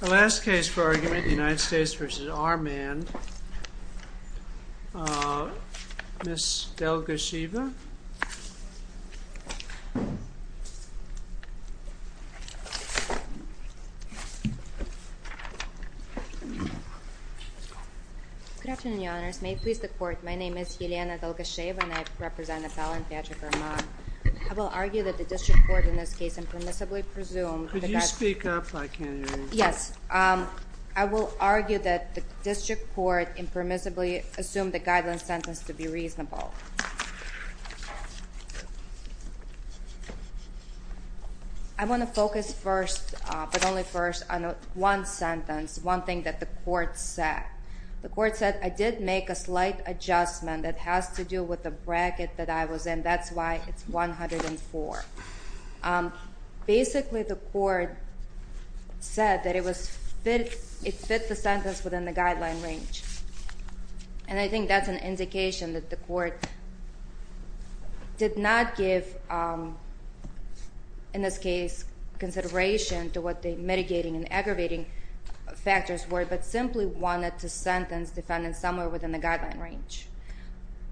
The last case for argument, United States v. Armand, Ms. Delgasheva. Good afternoon, Your Honors. May it please the Court, my name is Yelena Delgasheva and I represent Appellant Patrick Armand. I will argue that the District Court in this case impermissibly presumed... Could you speak up, I can't hear you. Yes. I will argue that the District Court impermissibly assumed the guideline sentence to be reasonable. I want to focus first, but only first, on one sentence, one thing that the Court said. The Court said, I did make a slight adjustment that has to do with the bracket that I was in, that's why it's 104. Basically, the Court said that it fit the sentence within the guideline range. And I think that's an indication that the Court did not give, in this case, consideration to what the mitigating and aggravating factors were, but simply wanted to sentence defendants somewhere within the guideline range.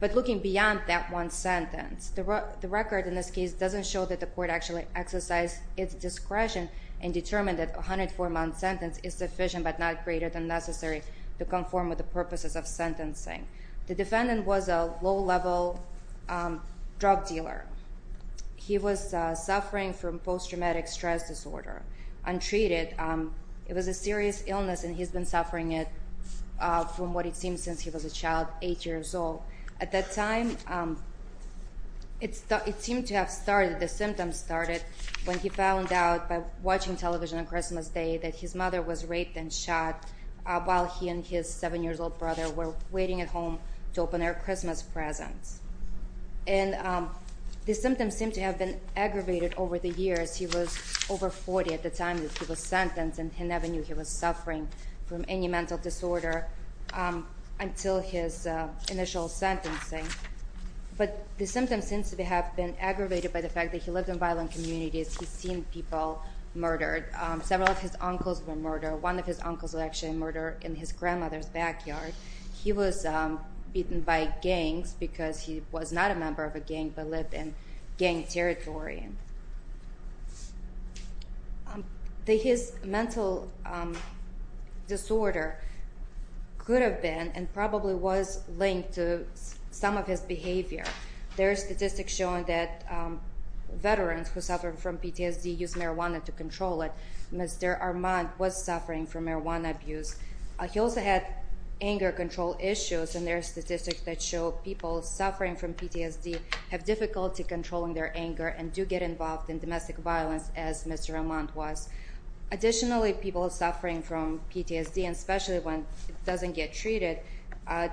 But looking beyond that one sentence, the record in this case doesn't show that the Court actually exercised its discretion and determined that a 104-month sentence is sufficient but not greater than necessary to conform with the purposes of sentencing. The defendant was a low-level drug dealer. He was suffering from post-traumatic stress disorder, untreated. It was a serious illness, and he's been suffering it, from what it seems, since he was a child, 8 years old. At that time, it seemed to have started, the symptoms started, when he found out by watching television on Christmas Day that his mother was raped and shot while he and his 7-year-old brother were waiting at home to open their Christmas presents. And the symptoms seemed to have been aggravated over the years. He was over 40 at the time that he was sentenced, and he never knew he was suffering from any mental disorder until his initial sentencing. But the symptoms seemed to have been aggravated by the fact that he lived in violent communities. He's seen people murdered. Several of his uncles were murdered. One of his uncles was actually murdered in his grandmother's backyard. He was beaten by gangs because he was not a member of a gang but lived in gang territory. His mental disorder could have been and probably was linked to some of his behavior. There are statistics showing that veterans who suffer from PTSD use marijuana to control it. Mr. Armand was suffering from marijuana abuse. He also had anger control issues, and there are statistics that show people suffering from PTSD have difficulty controlling their anger and do get involved in domestic violence, as Mr. Armand was. Additionally, people suffering from PTSD, and especially when it doesn't get treated,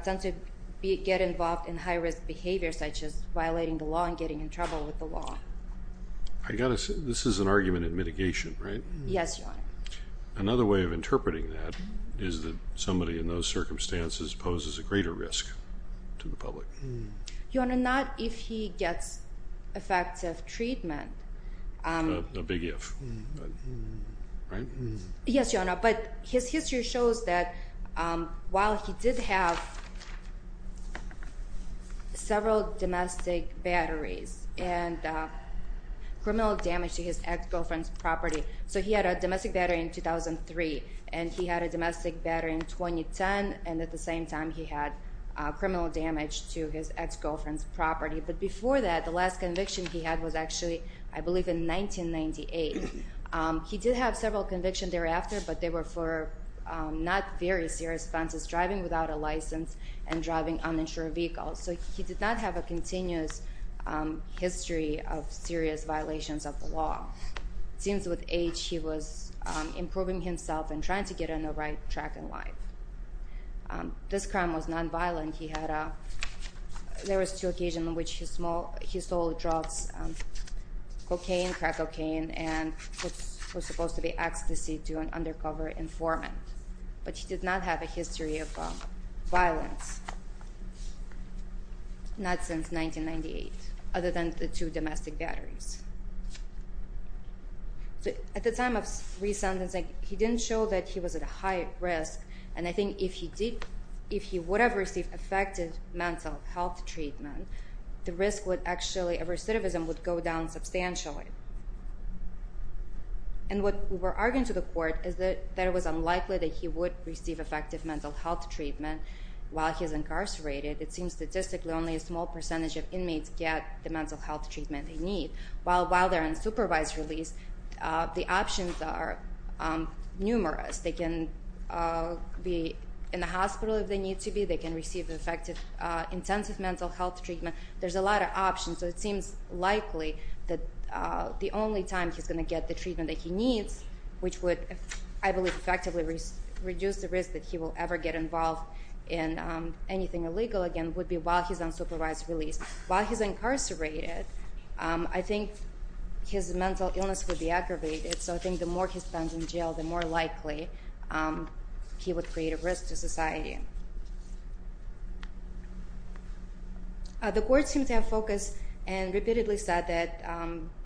tend to get involved in high-risk behavior such as violating the law and getting in trouble with the law. I've got to say, this is an argument in mitigation, right? Yes, Your Honor. Another way of interpreting that is that somebody in those circumstances poses a greater risk to the public. Your Honor, not if he gets effective treatment. A big if, right? Yes, Your Honor, but his history shows that while he did have several domestic batteries and criminal damage to his ex-girlfriend's property, so he had a domestic battery in 2003, and he had a domestic battery in 2010, and at the same time he had criminal damage to his ex-girlfriend's property. But before that, the last conviction he had was actually, I believe, in 1998. He did have several convictions thereafter, but they were for not very serious offenses, driving without a license and driving uninsured vehicles. So he did not have a continuous history of serious violations of the law. Since his age, he was improving himself and trying to get on the right track in life. This crime was nonviolent. There were two occasions in which he sold drugs, cocaine, crack cocaine, and was supposed to be ex-deceived to an undercover informant. But he did not have a history of violence, not since 1998, other than the two domestic batteries. At the time of re-sentencing, he didn't show that he was at a high risk, and I think if he would have received effective mental health treatment, the risk would actually, the recidivism would go down substantially. And what we're arguing to the court is that it was unlikely that he would receive effective mental health treatment while he was incarcerated. It seems statistically only a small percentage of inmates get the mental health treatment they need. While they're on supervised release, the options are numerous. They can be in the hospital if they need to be. They can receive effective intensive mental health treatment. There's a lot of options, so it seems likely that the only time he's going to get the treatment that he needs, which would, I believe, effectively reduce the risk that he will ever get involved in anything illegal again, would be while he's on supervised release. While he's incarcerated, I think his mental illness would be aggravated, so I think the more he spends in jail, the more likely he would create a risk to society. The court seems to have focused and repeatedly said that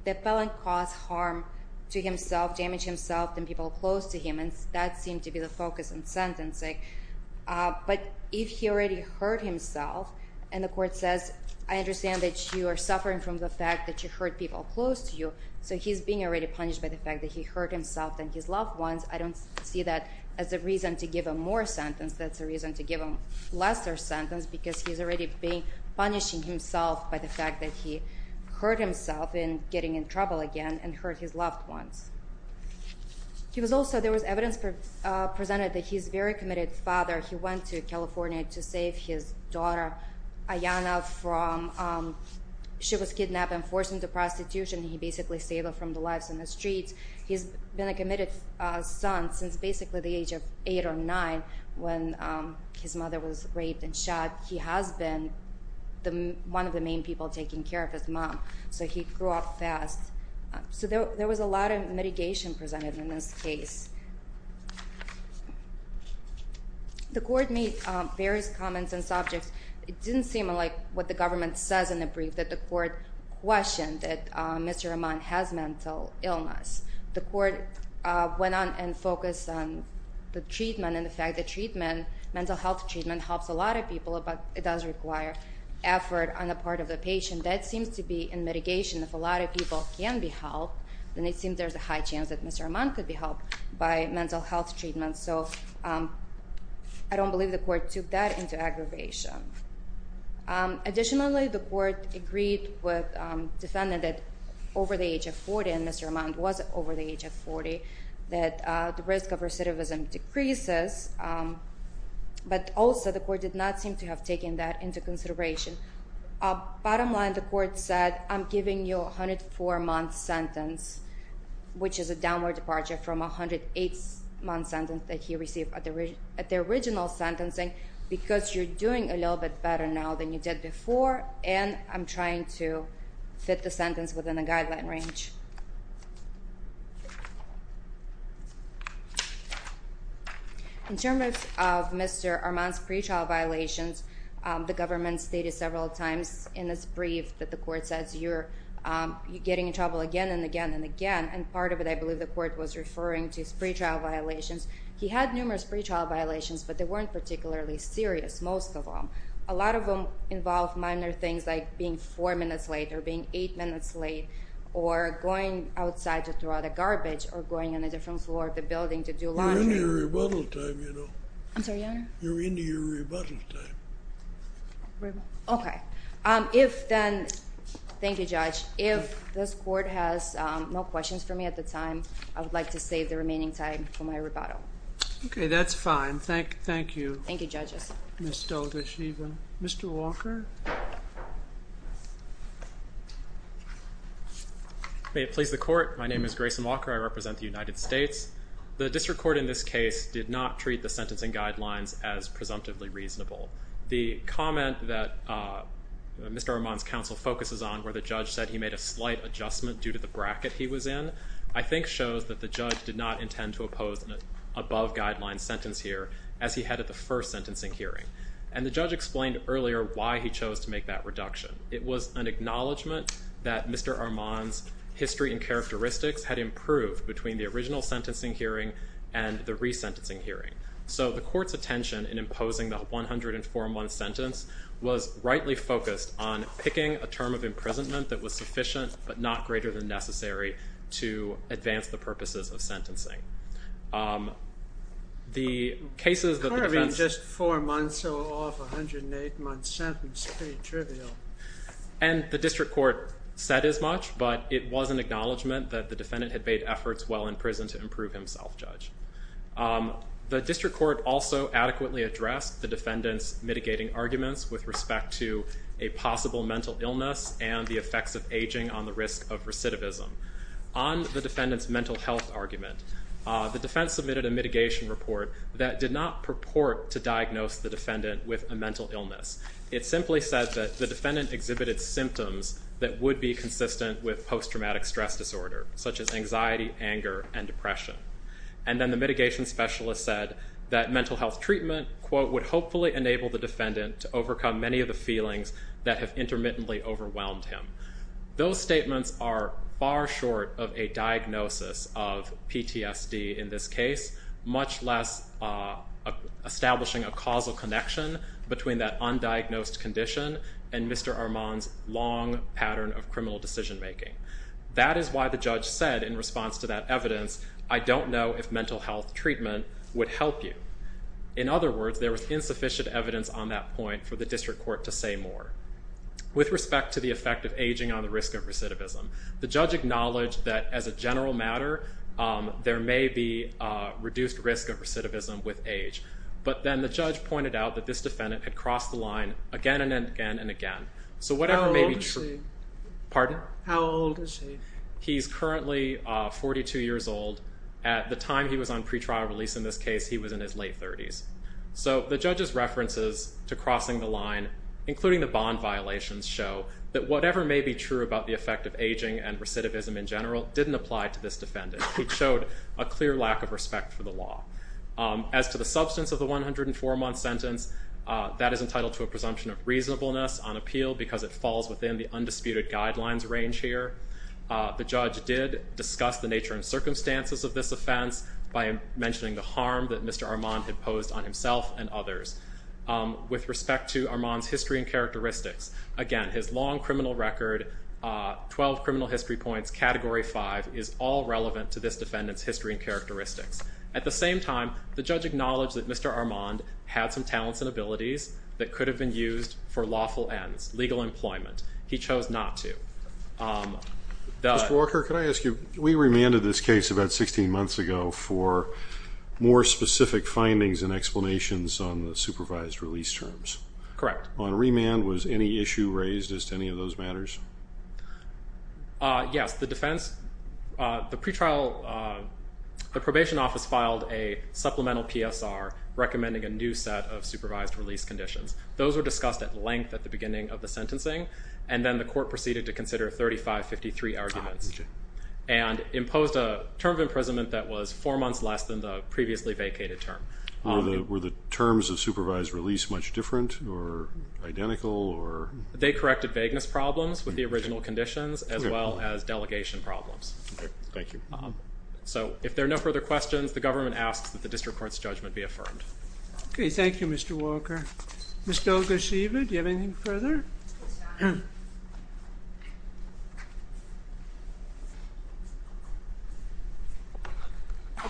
the felon caused harm to himself, damaged himself, and people close to him, and that seemed to be the focus in sentencing. But if he already hurt himself, and the court says, I understand that you are suffering from the fact that you hurt people close to you, so he's being already punished by the fact that he hurt himself and his loved ones. I don't see that as a reason to give him more sentence. That's a reason to give him lesser sentence because he's already punishing himself by the fact that he hurt himself in getting in trouble again and hurt his loved ones. He was also, there was evidence presented that he's a very committed father. He went to California to save his daughter Ayana from, she was kidnapped and forced into prostitution. He basically saved her from the lives in the streets. He's been a committed son since basically the age of eight or nine when his mother was raped and shot. He has been one of the main people taking care of his mom, so he grew up fast. So there was a lot of mitigation presented in this case. The court made various comments and subjects. It didn't seem like what the government says in the brief that the court questioned that Mr. Rahman has mental illness. The court went on and focused on the treatment and the fact that treatment, mental health treatment helps a lot of people, but it does require effort on the part of the patient. That seems to be in mitigation. If a lot of people can be helped, then it seems there's a high chance that Mr. Rahman could be helped by mental health treatment. So I don't believe the court took that into aggravation. Additionally, the court agreed with defendant that over the age of 40, and Mr. Rahman was over the age of 40, that the risk of recidivism decreases, but also the court did not seem to have taken that into consideration. Bottom line, the court said, I'm giving you a 104-month sentence, which is a downward departure from a 108-month sentence that he received at the original sentencing because you're doing a little bit better now than you did before, and I'm trying to fit the sentence within the guideline range. In terms of Mr. Rahman's pretrial violations, the government stated several times in its brief that the court says, you're getting in trouble again and again and again, and part of it, I believe, the court was referring to his pretrial violations. He had numerous pretrial violations, but they weren't particularly serious, most of them. A lot of them involved minor things like being four minutes late or being eight minutes late, or going outside to throw out the garbage, or going on a different floor of the building to do laundry. You're in your rebuttal time, you know. I'm sorry, Your Honor? You're in your rebuttal time. Okay. If then, thank you, Judge. If this court has no questions for me at the time, I would like to save the remaining time for my rebuttal. Okay, that's fine. Thank you. Thank you, judges. Ms. Delgashevan. Mr. Walker? May it please the Court, my name is Grayson Walker. I represent the United States. The district court in this case did not treat the sentencing guidelines as presumptively reasonable. The comment that Mr. Rahman's counsel focuses on, where the judge said he made a slight adjustment due to the bracket he was in, I think shows that the judge did not intend to oppose an above-guideline sentence here as he had at the first sentencing hearing. And the judge explained earlier why he chose to make that reduction. It was an acknowledgment that Mr. Rahman's history and characteristics had improved between the original sentencing hearing and the resentencing hearing. So the court's attention in imposing the 104-month sentence was rightly focused on picking a term of imprisonment that was sufficient but not greater than necessary to advance the purposes of sentencing. The cases that the defense... What do you mean just four months, so off a 108-month sentence? Pretty trivial. And the district court said as much, but it was an acknowledgment that the defendant had made efforts while in prison to improve himself, Judge. The district court also adequately addressed the defendant's mitigating arguments with respect to a possible mental illness and the effects of aging on the risk of recidivism. On the defendant's mental health argument, the defense submitted a mitigation report that did not purport to diagnose the defendant with a mental illness. It simply said that the defendant exhibited symptoms that would be consistent with post-traumatic stress disorder, such as anxiety, anger, and depression. And then the mitigation specialist said that mental health treatment, quote, would hopefully enable the defendant to overcome many of the feelings that have intermittently overwhelmed him. Those statements are far short of a diagnosis of PTSD in this case, much less establishing a causal connection between that undiagnosed condition and Mr. Rahman's long pattern of criminal decision-making. That is why the judge said in response to that evidence, I don't know if mental health treatment would help you. In other words, there was insufficient evidence on that point for the district court to say more. With respect to the effect of aging on the risk of recidivism, the judge acknowledged that as a general matter, there may be reduced risk of recidivism with age. But then the judge pointed out that this defendant had crossed the line again and again and again. So whatever may be true- How old is he? Pardon? How old is he? He's currently 42 years old. At the time he was on pretrial release in this case, he was in his late 30s. So the judge's references to crossing the line, including the bond violations, show that whatever may be true about the effect of aging and recidivism in general didn't apply to this defendant. He showed a clear lack of respect for the law. As to the substance of the 104-month sentence, that is entitled to a presumption of reasonableness on appeal because it falls within the undisputed guidelines range here. The judge did discuss the nature and circumstances of this offense by mentioning the harm that Mr. Armand had posed on himself and others. With respect to Armand's history and characteristics, again, his long criminal record, 12 criminal history points, category 5, is all relevant to this defendant's history and characteristics. At the same time, the judge acknowledged that Mr. Armand had some talents and abilities that could have been used for lawful ends, legal employment. He chose not to. Mr. Walker, can I ask you, we remanded this case about 16 months ago for more specific findings and explanations on the supervised release terms. Correct. On remand, was any issue raised as to any of those matters? Yes. The defense, the pretrial, the probation office filed a supplemental PSR recommending a new set of supervised release conditions. Those were discussed at length at the beginning of the sentencing, and then the court proceeded to consider 3553 arguments and imposed a term of imprisonment that was four months less than the previously vacated term. Were the terms of supervised release much different or identical or? They corrected vagueness problems with the original conditions, as well as delegation problems. Thank you. So, if there are no further questions, the government asks that the district court's judgment be affirmed. Okay, thank you, Mr. Walker. Ms. Delga, do you have anything further? At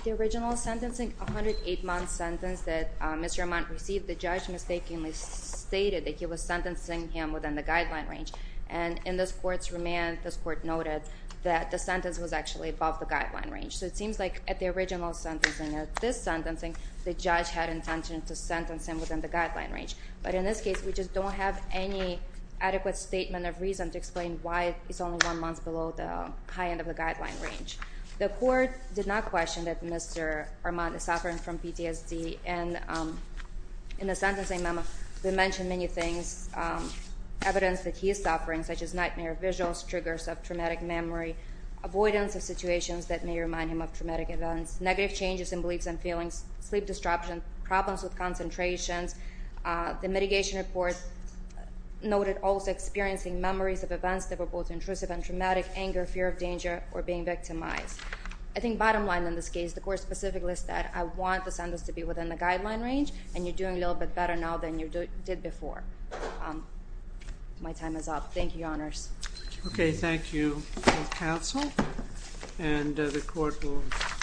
the original sentencing, a 108-month sentence that Mr. Amant received, the judge mistakenly stated that he was sentencing him within the guideline range. And in this court's remand, this court noted that the sentence was actually above the guideline range. So, it seems like at the original sentencing, at this sentencing, the judge had intention to sentence him within the guideline range. But in this case, we just don't have any adequate statement of reason to explain why it's only one month below the high end of the guideline range. The court did not question that Mr. Amant is suffering from PTSD. And in the sentencing memo, they mentioned many things, evidence that he is suffering, such as nightmare visuals, triggers of traumatic memory, avoidance of situations that may remind him of traumatic events, negative changes in beliefs and feelings, sleep disruption, problems with concentrations. The mitigation report noted also experiencing memories of events that were both intrusive and traumatic, anger, fear of danger, or being victimized. I think bottom line in this case, the court specifically said, I want the sentence to be within the guideline range, and you're doing a little bit better now than you did before. My time is up. Thank you, Your Honors. Okay, thank you, counsel. And the court will.